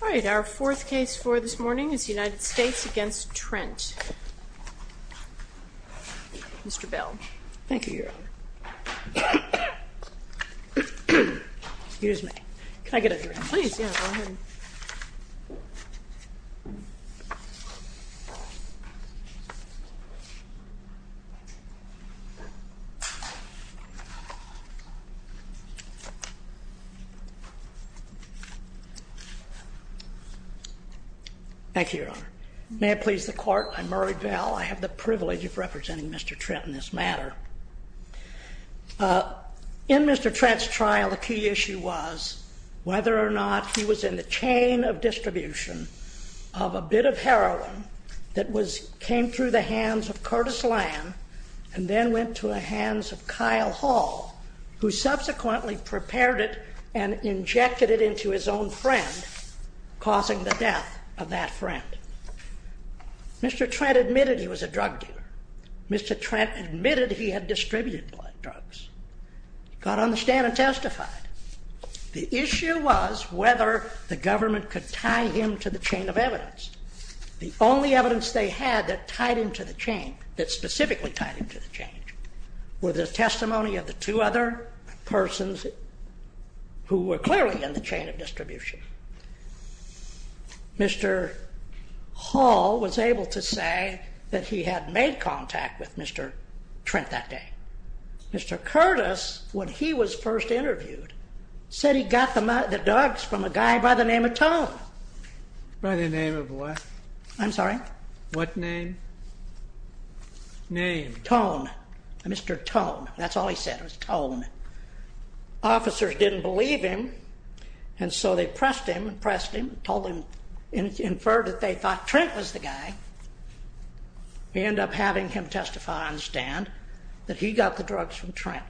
All right, our fourth case for this morning is United States v. Trent. Mr. Bell. Thank you, Your Honor. Excuse me. Can I get a drink? Please, go ahead. Thank you, Your Honor. May it please the Court, I'm Murray Bell. I have the privilege of representing Mr. Trent in this matter. In Mr. Trent's trial, the key issue was whether or not he was in the chain of distribution of a bit of heroin that came through the hands of Curtis Lamb and then went to the hands of Kyle Hall, who subsequently prepared it and injected it into his own friend, causing the death of that friend. Mr. Trent admitted he was a drug dealer. Mr. Trent admitted he had distributed blood drugs. He got on the stand and testified. The issue was whether the government could tie him to the chain of evidence. The only evidence they had that tied him to the chain, that specifically tied him to the chain, were the testimony of the two other persons who were clearly in the chain of distribution. Mr. Hall was able to say that he had made contact with Mr. Trent that day. Mr. Curtis, when he was first interviewed, said he got the drugs from a guy by the name of Tom. By the name of what? I'm sorry? What name? Name. Tone. Mr. Tone. That's all he said, was Tone. Officers didn't believe him, and so they pressed him, pressed him, told him, inferred that they thought Trent was the guy. We end up having him testify on the stand that he got the drugs from Trent.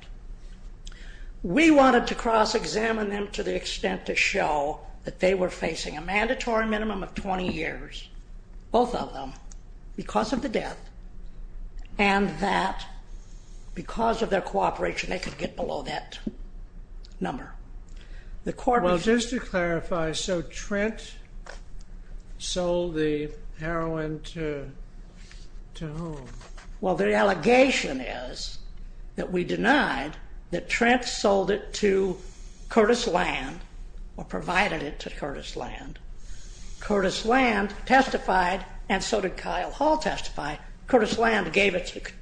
We wanted to cross-examine them to the extent to show that they were facing a mandatory minimum of 20 years, both of them, because of the death and that because of their cooperation they could get below that number. Well, just to clarify, so Trent sold the heroin to whom? Well, the allegation is that we denied that Trent sold it to Curtis Land or provided it to Curtis Land. Curtis Land testified, and so did Kyle Hall testify. Curtis Land gave it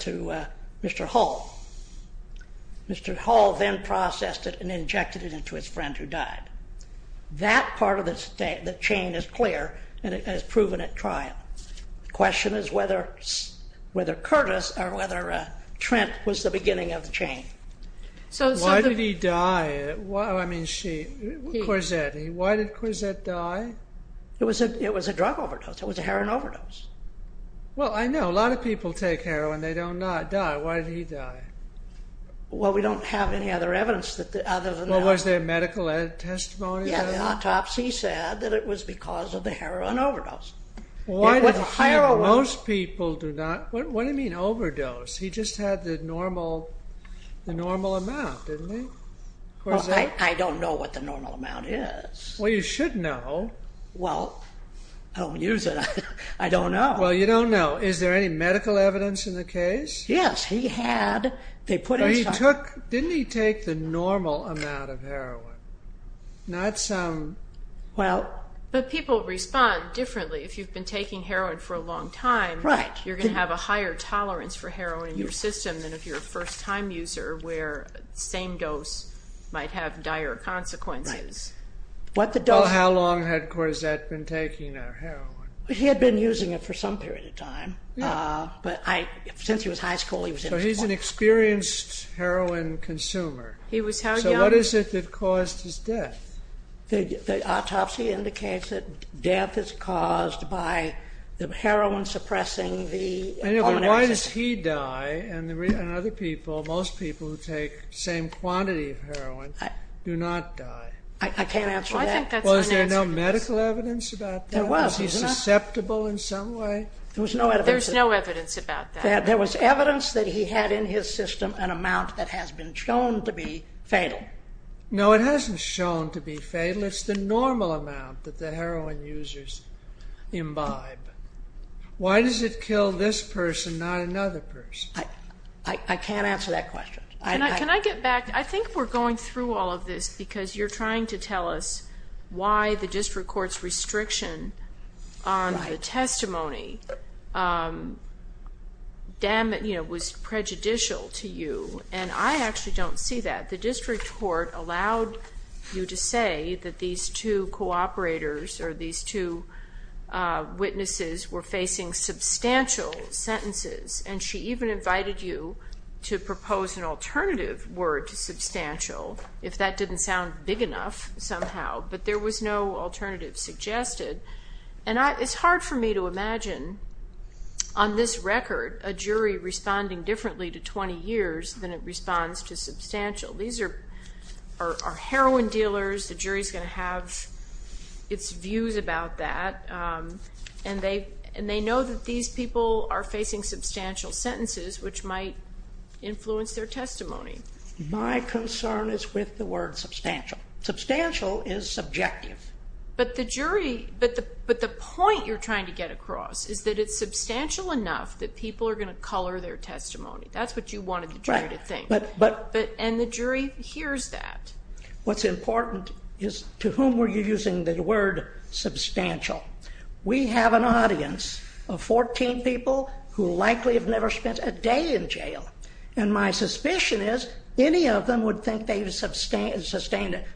to Mr. Hall. Mr. Hall then processed it and injected it into his friend who died. That part of the chain is clear, and it has proven at trial. The question is whether Curtis or whether Trent was the beginning of the chain. Why did he die? I mean, Corzette, why did Corzette die? It was a drug overdose. It was a heroin overdose. Well, I know. A lot of people take heroin. They don't die. Why did he die? Well, we don't have any other evidence other than that. Was there medical testimony? Yeah, the autopsy said that it was because of the heroin overdose. Why did he? Most people do not. What do you mean overdose? He just had the normal amount, didn't he? Well, I don't know what the normal amount is. Well, you should know. Well, I don't use it. I don't know. Well, you don't know. Is there any medical evidence in the case? Yes. He had. They put him some. Didn't he take the normal amount of heroin, not some? But people respond differently. If you've been taking heroin for a long time, you're going to have a higher tolerance for heroin in your system than if you're a first-time user where the same dose might have dire consequences. How long had Corzette been taking heroin? He had been using it for some period of time. But since he was in high school, he was informed. So he's an experienced heroin consumer. He was how young? What is it that caused his death? The autopsy indicates that death is caused by the heroin suppressing the pulmonary system. Why does he die and other people, most people who take the same quantity of heroin, do not die? I can't answer that. Well, I think that's unanswerable. Was there no medical evidence about that? There was. Was he susceptible in some way? There was no evidence. There's no evidence about that. There was evidence that he had in his system an amount that has been shown to be fatal. No, it hasn't shown to be fatal. It's the normal amount that the heroin users imbibe. Why does it kill this person, not another person? I can't answer that question. Can I get back? I think we're going through all of this because you're trying to tell us why the district court's restriction on the testimony was prejudicial to you, and I actually don't see that. The district court allowed you to say that these two cooperators or these two witnesses were facing substantial sentences, and she even invited you to propose an alternative word to substantial, if that didn't sound big enough somehow. But there was no alternative suggested. And it's hard for me to imagine on this record a jury responding differently to 20 years than it responds to substantial. These are heroin dealers. The jury's going to have its views about that. And they know that these people are facing substantial sentences, which might influence their testimony. My concern is with the word substantial. Substantial is subjective. But the point you're trying to get across is that it's substantial enough that people are going to color their testimony. That's what you wanted the jury to think. And the jury hears that. What's important is to whom were you using the word substantial. We have an audience of 14 people who likely have never spent a day in jail, and my suspicion is any of them would think they've sustained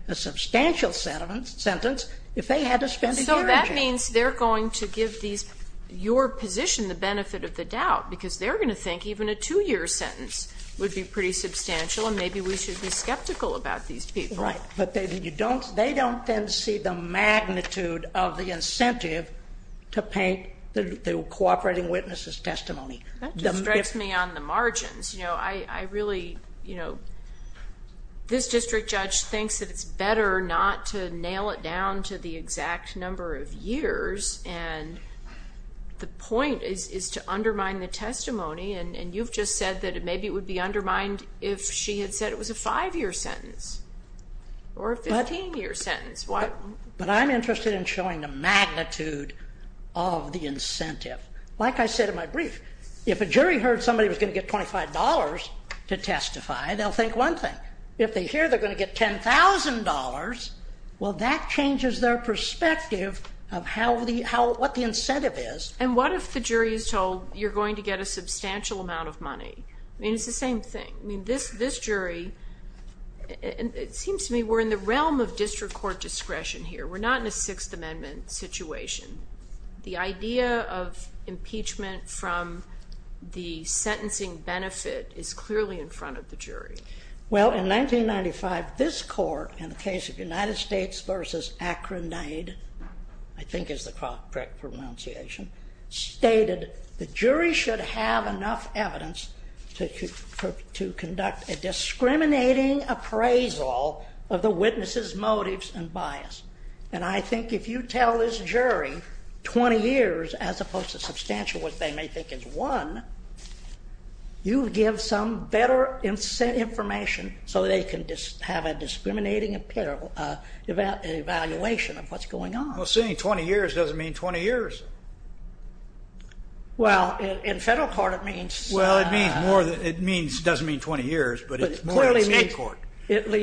a substantial sentence if they had to spend a day in jail. So that means they're going to give these, your position, the benefit of the doubt, because they're going to think even a 2-year sentence would be pretty substantial and maybe we should be skeptical about these people. Right. But they don't then see the magnitude of the incentive to paint the cooperating witnesses' testimony. That just strikes me on the margins. You know, I really, you know, this district judge thinks that it's better not to nail it down to the exact number of years, and the point is to undermine the testimony, and you've just said that maybe it would be undermined if she had said it was a 5-year sentence or a 15-year sentence. Like I said in my brief, if a jury heard somebody was going to get $25 to testify, they'll think one thing. If they hear they're going to get $10,000, well, that changes their perspective of what the incentive is. And what if the jury is told you're going to get a substantial amount of money? I mean, it's the same thing. I mean, this jury, it seems to me we're in the realm of district court discretion here. We're not in a Sixth Amendment situation. The idea of impeachment from the sentencing benefit is clearly in front of the jury. Well, in 1995, this court, in the case of United States v. Akronaid, I think is the correct pronunciation, stated the jury should have enough evidence to conduct a discriminating appraisal of the witness' motives and bias. And I think if you tell this jury 20 years as opposed to substantial, which they may think is one, you give some better information so they can have a discriminating evaluation of what's going on. Well, seeing 20 years doesn't mean 20 years. Well, in federal court it means. Well, it doesn't mean 20 years, but it's more in state court.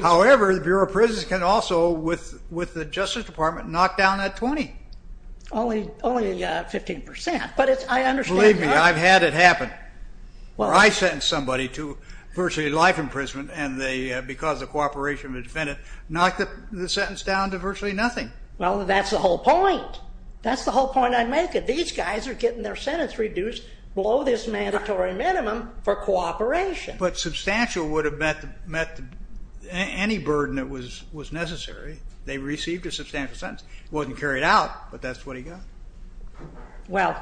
However, the Bureau of Prisons can also, with the Justice Department, knock down that 20. Only 15%. But I understand that. Believe me, I've had it happen where I sentence somebody to virtually life imprisonment and they, because of cooperation of the defendant, knock the sentence down to virtually nothing. Well, that's the whole point. That's the whole point I'm making. These guys are getting their sentence reduced below this mandatory minimum for cooperation. But substantial would have met any burden that was necessary. They received a substantial sentence. It wasn't carried out, but that's what he got. Well,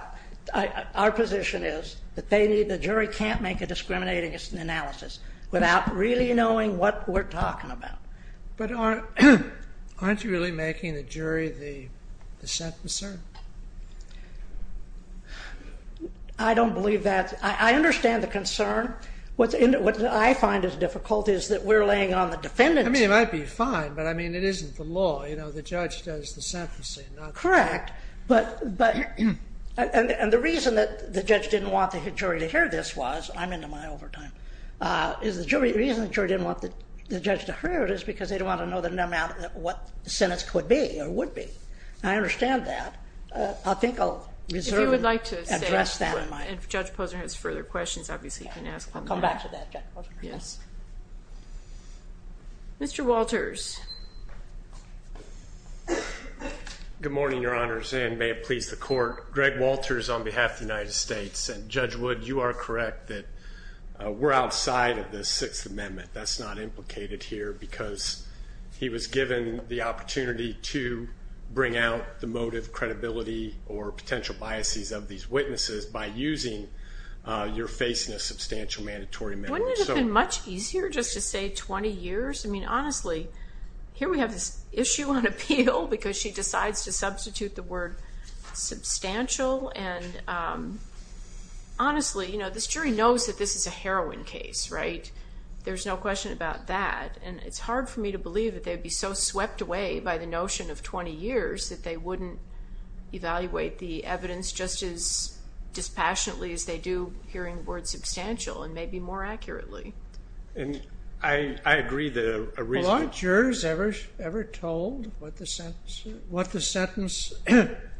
our position is that the jury can't make a discriminating analysis without really knowing what we're talking about. But aren't you really making the jury the set concern? I don't believe that. I understand the concern. What I find is difficult is that we're laying on the defendant. I mean, it might be fine, but, I mean, it isn't the law. You know, the judge does the sentencing, not the court. Correct. And the reason that the judge didn't want the jury to hear this was, I'm into my overtime, is the reason the jury didn't want the judge to hear it is because they don't want to know what the sentence could be or would be. I understand that. I think I'll reserve and address that. And if Judge Posner has further questions, obviously you can ask them. I'll come back to that, Judge Posner. Yes. Mr. Walters. Good morning, Your Honors, and may it please the court. Greg Walters on behalf of the United States. And, Judge Wood, you are correct that we're outside of the Sixth Amendment. That's not implicated here because he was given the opportunity to bring out the motive, credibility, or potential biases of these witnesses by using you're facing a substantial mandatory amendment. Wouldn't it have been much easier just to say 20 years? I mean, honestly, here we have this issue on appeal because she decides to substitute the word substantial. And, honestly, you know, this jury knows that this is a heroin case, right? There's no question about that. And it's hard for me to believe that they'd be so swept away by the notion of 20 years that they wouldn't evaluate the evidence just as dispassionately as they do hearing the word substantial and maybe more accurately. And I agree that a reasonable jury. Well, aren't jurors ever told what the sentence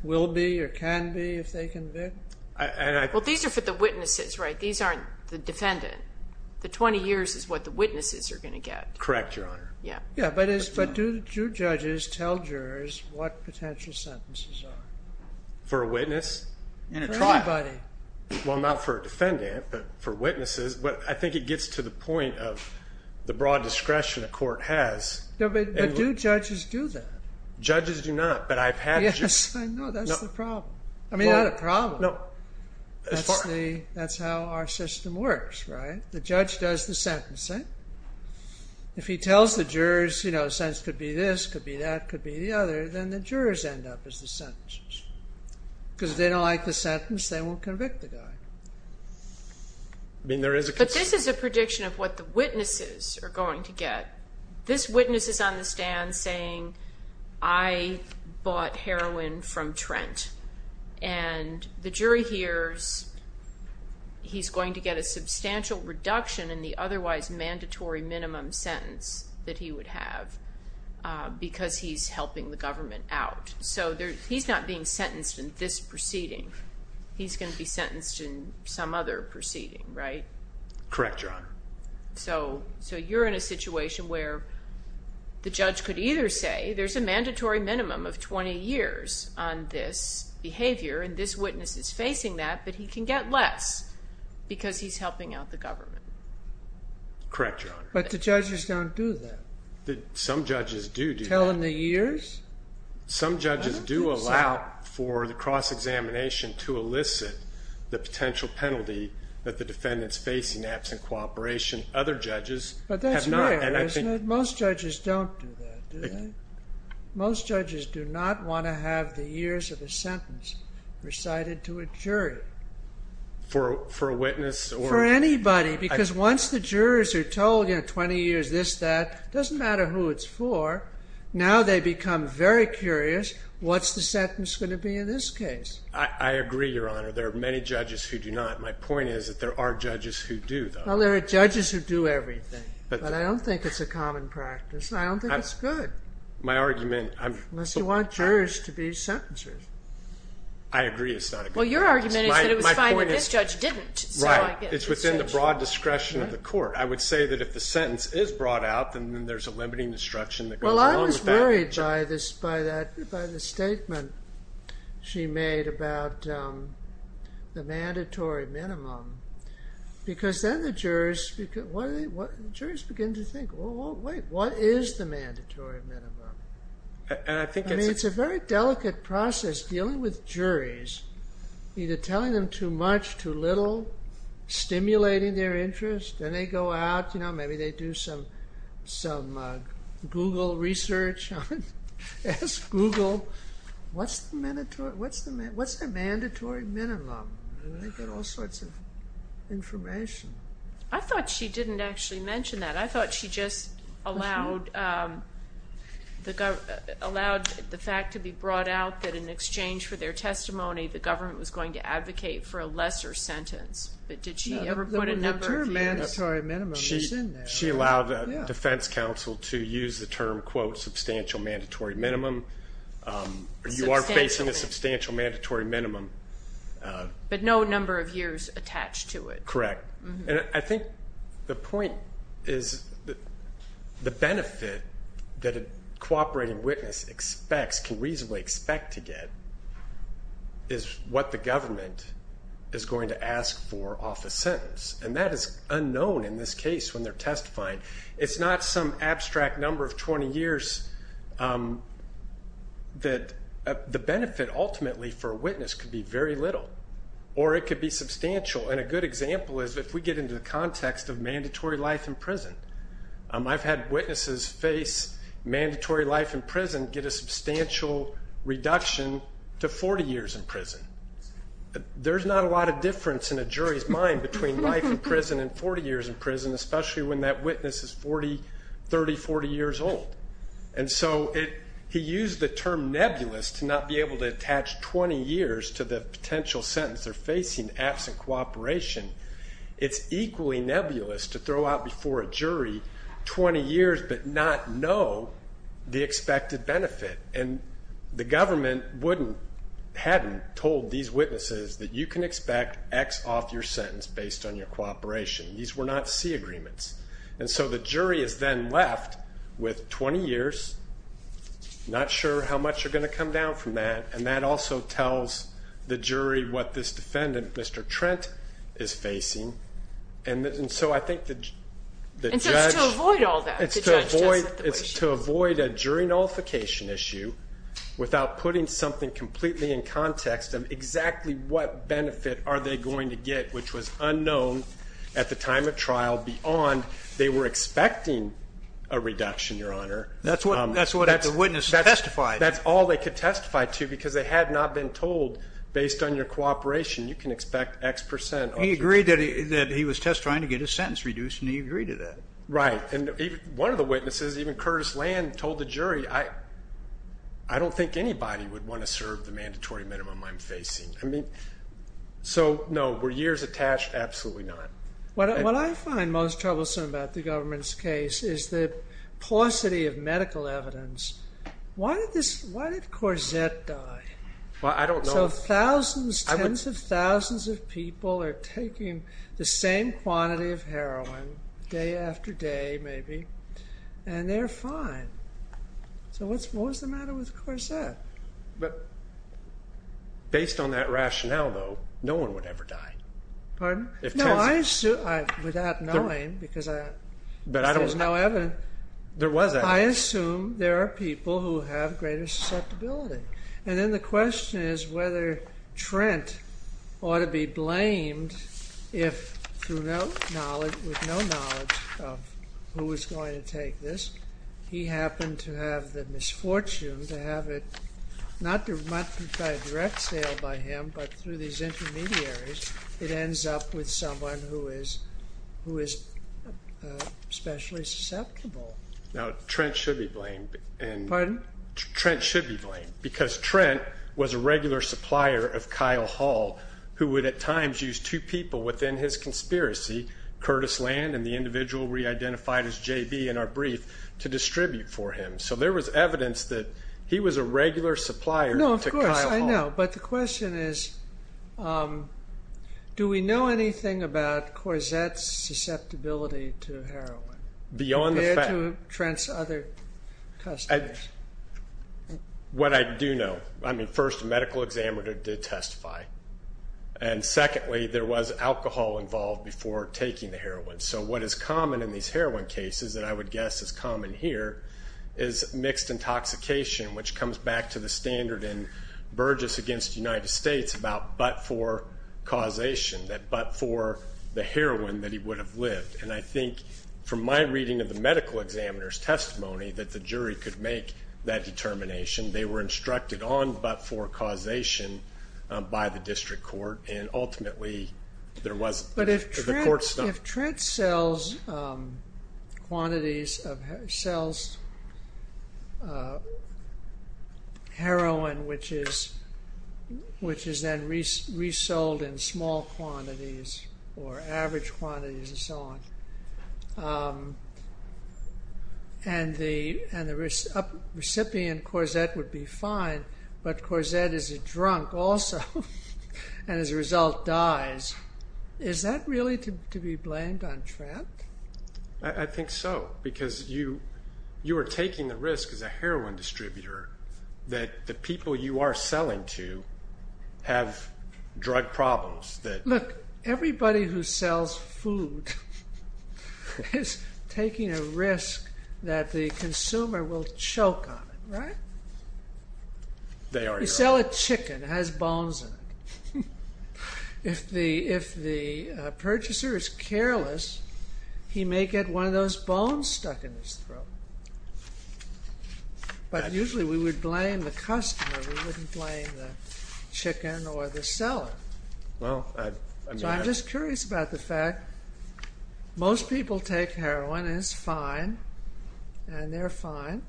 will be or can be if they convict? Well, these are for the witnesses, right? These aren't the defendant. The 20 years is what the witnesses are going to get. Correct, Your Honor. Yeah. But do judges tell jurors what potential sentences are? For a witness? For anybody. Well, not for a defendant, but for witnesses. But I think it gets to the point of the broad discretion a court has. But do judges do that? Judges do not. But I've had jurors. Yes, I know. That's the problem. I mean, not a problem. No. That's how our system works, right? The judge does the sentencing. If he tells the jurors, you know, the sentence could be this, could be that, could be the other, then the jurors end up as the sentencers. Because if they don't like the sentence, they won't convict the guy. I mean, there is a concern. But this is a prediction of what the witnesses are going to get. This witness is on the stand saying, I bought heroin from Trent. And the jury hears he's going to get a substantial reduction in the otherwise mandatory minimum sentence that he would have because he's helping the government out. So he's not being sentenced in this proceeding. He's going to be sentenced in some other proceeding, right? Correct, John. So you're in a situation where the judge could either say, there's a mandatory minimum of 20 years on this behavior, and this witness is facing that, but he can get less because he's helping out the government. Correct, Your Honor. But the judges don't do that. Some judges do. Telling the years? Some judges do allow for the cross-examination to elicit the potential penalty that the defendant's facing absent cooperation. Other judges have not. But that's rare, isn't it? Most judges don't do that, do they? Most judges do not want to have the years of a sentence recited to a jury. For a witness? For anybody. Because once the jurors are told, you know, 20 years this, that, it doesn't matter who it's for. Now they become very curious, what's the sentence going to be in this case? I agree, Your Honor. There are many judges who do not. My point is that there are judges who do, though. Well, there are judges who do everything. But I don't think it's a common practice. I don't think it's good. My argument. Unless you want jurors to be sentencers. I agree it's not a good practice. Well, your argument is that it was fine when this judge didn't. Right. It's within the broad discretion of the court. I would say that if the sentence is brought out, then there's a limiting destruction that goes along with that. Well, I was worried by the statement she made about the mandatory minimum. Because then the jurors begin to think, well, wait, what is the mandatory minimum? I mean, it's a very delicate process dealing with juries, either telling them too much, too little, stimulating their interest. Then they go out, you know, maybe they do some Google research. Ask Google, what's the mandatory minimum? And they get all sorts of information. I thought she didn't actually mention that. I thought she just allowed the fact to be brought out that in exchange for their testimony, the government was going to advocate for a lesser sentence. But did she ever put a number of years? The term mandatory minimum is in there. She allowed a defense counsel to use the term, quote, substantial mandatory minimum. You are facing a substantial mandatory minimum. But no number of years attached to it. Correct. And I think the point is the benefit that a cooperating witness expects, can reasonably expect to get, is what the government is going to ask for off a sentence. And that is unknown in this case when they're testifying. It's not some abstract number of 20 years that the benefit ultimately for a witness could be very little. Or it could be substantial. And a good example is if we get into the context of mandatory life in prison. I've had witnesses face mandatory life in prison get a substantial reduction to 40 years in prison. There's not a lot of difference in a jury's mind between life in prison and 40 years in prison, especially when that witness is 40, 30, 40 years old. And so he used the term nebulous to not be able to attach 20 years to the potential sentence they're facing in absent cooperation. It's equally nebulous to throw out before a jury 20 years but not know the expected benefit. And the government wouldn't, hadn't told these witnesses that you can expect X off your sentence based on your cooperation. These were not C agreements. And so the jury is then left with 20 years, not sure how much you're going to come down from that, and that also tells the jury what this defendant, Mr. Trent, is facing. And so I think the judge. And so it's to avoid all that. It's to avoid a jury nullification issue without putting something completely in context of exactly what benefit are they going to get, which was unknown at the time of trial beyond they were expecting a reduction, Your Honor. That's what the witness testified. That's all they could testify to because they had not been told based on your cooperation you can expect X percent. He agreed that he was testifying to get his sentence reduced, and he agreed to that. Right. And one of the witnesses, even Curtis Land, told the jury, I don't think anybody would want to serve the mandatory minimum I'm facing. So, no, were years attached? Absolutely not. What I find most troublesome about the government's case is the paucity of medical evidence. Why did Corzette die? Well, I don't know. So thousands, tens of thousands of people are taking the same quantity of heroin day after day, maybe, and they're fine. So what's the matter with Corzette? But based on that rationale, though, no one would ever die. Pardon? No, I assume, without knowing because there's no evidence. There was evidence. I assume there are people who have greater susceptibility. And then the question is whether Trent ought to be blamed if, with no knowledge of who was going to take this, he happened to have the misfortune to have it, not by a direct sale by him, but through these intermediaries, it ends up with someone who is especially susceptible. Now, Trent should be blamed. Pardon? Trent should be blamed because Trent was a regular supplier of Kyle Hall, who would at times use two people within his conspiracy, Curtis Land and the individual we identified as JB in our brief, to distribute for him. So there was evidence that he was a regular supplier to Kyle Hall. No, of course, I know. But the question is, do we know anything about Corzette's susceptibility to heroin? Compared to Trent's other customers. What I do know, I mean, first, a medical examiner did testify. And secondly, there was alcohol involved before taking the heroin. So what is common in these heroin cases, and I would guess is common here, is mixed intoxication, which comes back to the standard in Burgess against the United States about but-for causation, that but-for the heroin that he would have lived. And I think from my reading of the medical examiner's testimony that the jury could make that determination. They were instructed on but-for causation by the district court. And ultimately, there wasn't. But if Trent sells heroin, which is then resold in small quantities or average quantities and so on, and the recipient, Corzette, would be fine, but Corzette is a drunk also and as a result dies, is that really to be blamed on Trent? I think so, because you are taking the risk as a heroin distributor that the people you are selling to have drug problems. Look, everybody who sells food is taking a risk that the consumer will choke on it, right? They are. You sell a chicken, it has bones in it. If the purchaser is careless, he may get one of those bones stuck in his throat. But usually we would blame the customer. We wouldn't blame the chicken or the seller. So I'm just curious about the fact most people take heroin and it's fine and they're fine.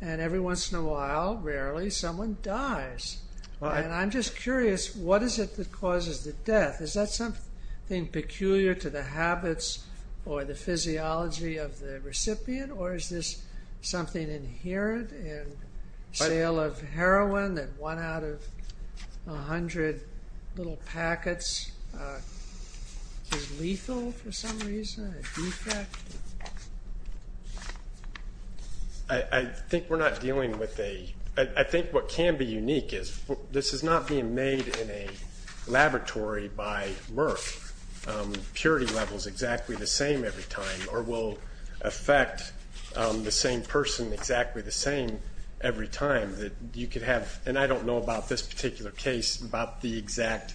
And every once in a while, rarely, someone dies. And I'm just curious, what is it that causes the death? Is that something peculiar to the habits or the physiology of the recipient? Or is this something inherent in the sale of heroin that one out of a hundred little packets is lethal for some reason, a defect? I think what can be unique is this is not being made in a laboratory by Merck. The purity level is exactly the same every time or will affect the same person exactly the same every time. And I don't know about this particular case about the exact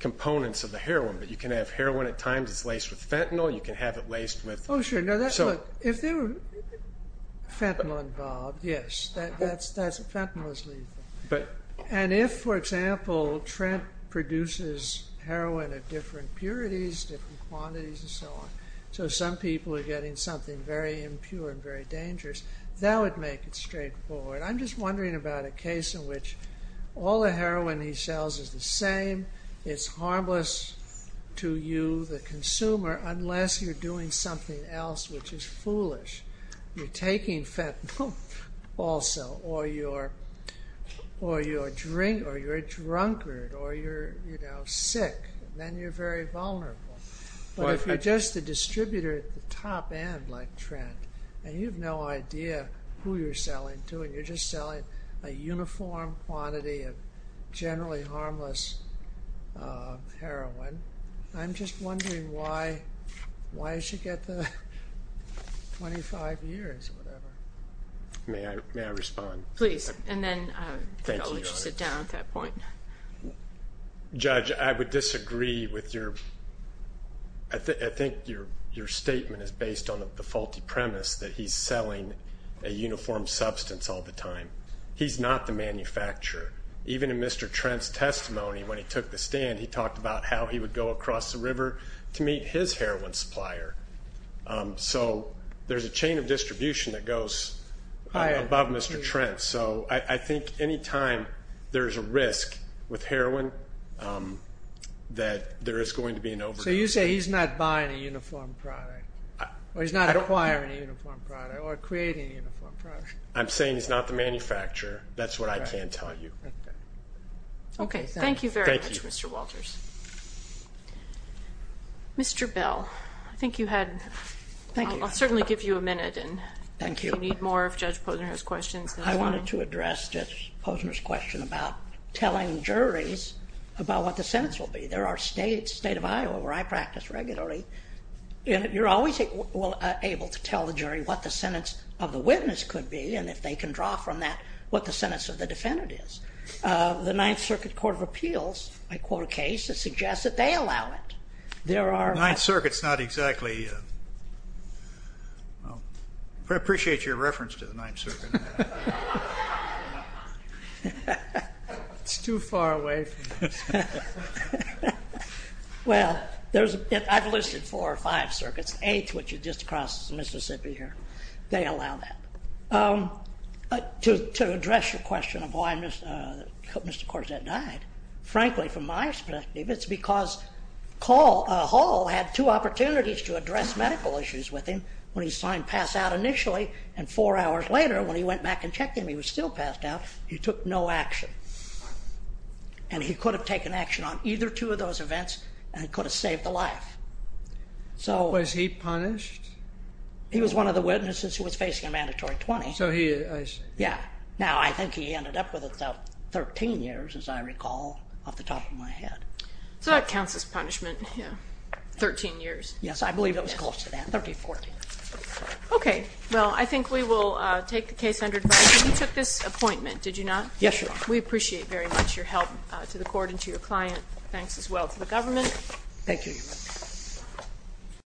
components of the heroin, but you can have heroin at times that's laced with fentanyl. You can have it laced with... Oh, sure. Look, if there were fentanyl involved, yes, fentanyl is lethal. And if, for example, Trent produces heroin at different purities, different quantities and so on, so some people are getting something very impure and very dangerous, that would make it straightforward. I'm just wondering about a case in which all the heroin he sells is the same. It's harmless to you, the consumer, unless you're doing something else which is foolish. You're taking fentanyl also or you're drunk or you're sick, then you're very vulnerable. But if you're just a distributor at the top end like Trent and you have no idea who you're selling to and you're just selling a uniform quantity of generally harmless heroin, I'm just wondering why I should get the 25 years or whatever. May I respond? Please. And then I'll let you sit down at that point. Judge, I would disagree with your... He's not the manufacturer. Even in Mr. Trent's testimony when he took the stand, he talked about how he would go across the river to meet his heroin supplier. So there's a chain of distribution that goes above Mr. Trent. So I think any time there's a risk with heroin that there is going to be an overdose. So you say he's not buying a uniform product or he's not acquiring a uniform product or creating a uniform product. I'm saying he's not the manufacturer. That's what I can tell you. Okay. Thank you very much, Mr. Walters. Mr. Bell, I think you had... Thank you. I'll certainly give you a minute. Thank you. If you need more, if Judge Posner has questions. I wanted to address Judge Posner's question about telling juries about what the sentence will be. There are states, the state of Iowa where I practice regularly, and you're always able to tell the jury what the sentence of the witness could be and if they can draw from that what the sentence of the defendant is. The Ninth Circuit Court of Appeals, I quote a case that suggests that they allow it. The Ninth Circuit is not exactly... I appreciate your reference to the Ninth Circuit. It's too far away. Well, I've listed four or five circuits. Eighth, which is just across Mississippi here. They allow that. To address your question of why Mr. Corzette died, frankly, from my perspective, it's because Hall had two opportunities to address medical issues with him. When he saw him pass out initially and four hours later when he went back and checked him, he was still passed out, he took no action. And he could have taken action on either two of those events and could have saved a life. Was he punished? He was one of the witnesses who was facing a mandatory 20. So he... Yeah. Now, I think he ended up with about 13 years, as I recall, off the top of my head. So that counts as punishment, yeah. 13 years. Yes, I believe it was close to that, 13, 14. Okay. Well, I think we will take the case under review. You took this appointment, did you not? Yes, Your Honor. We appreciate very much your help to the court and to your client. Thanks as well to the government. Thank you, Your Honor.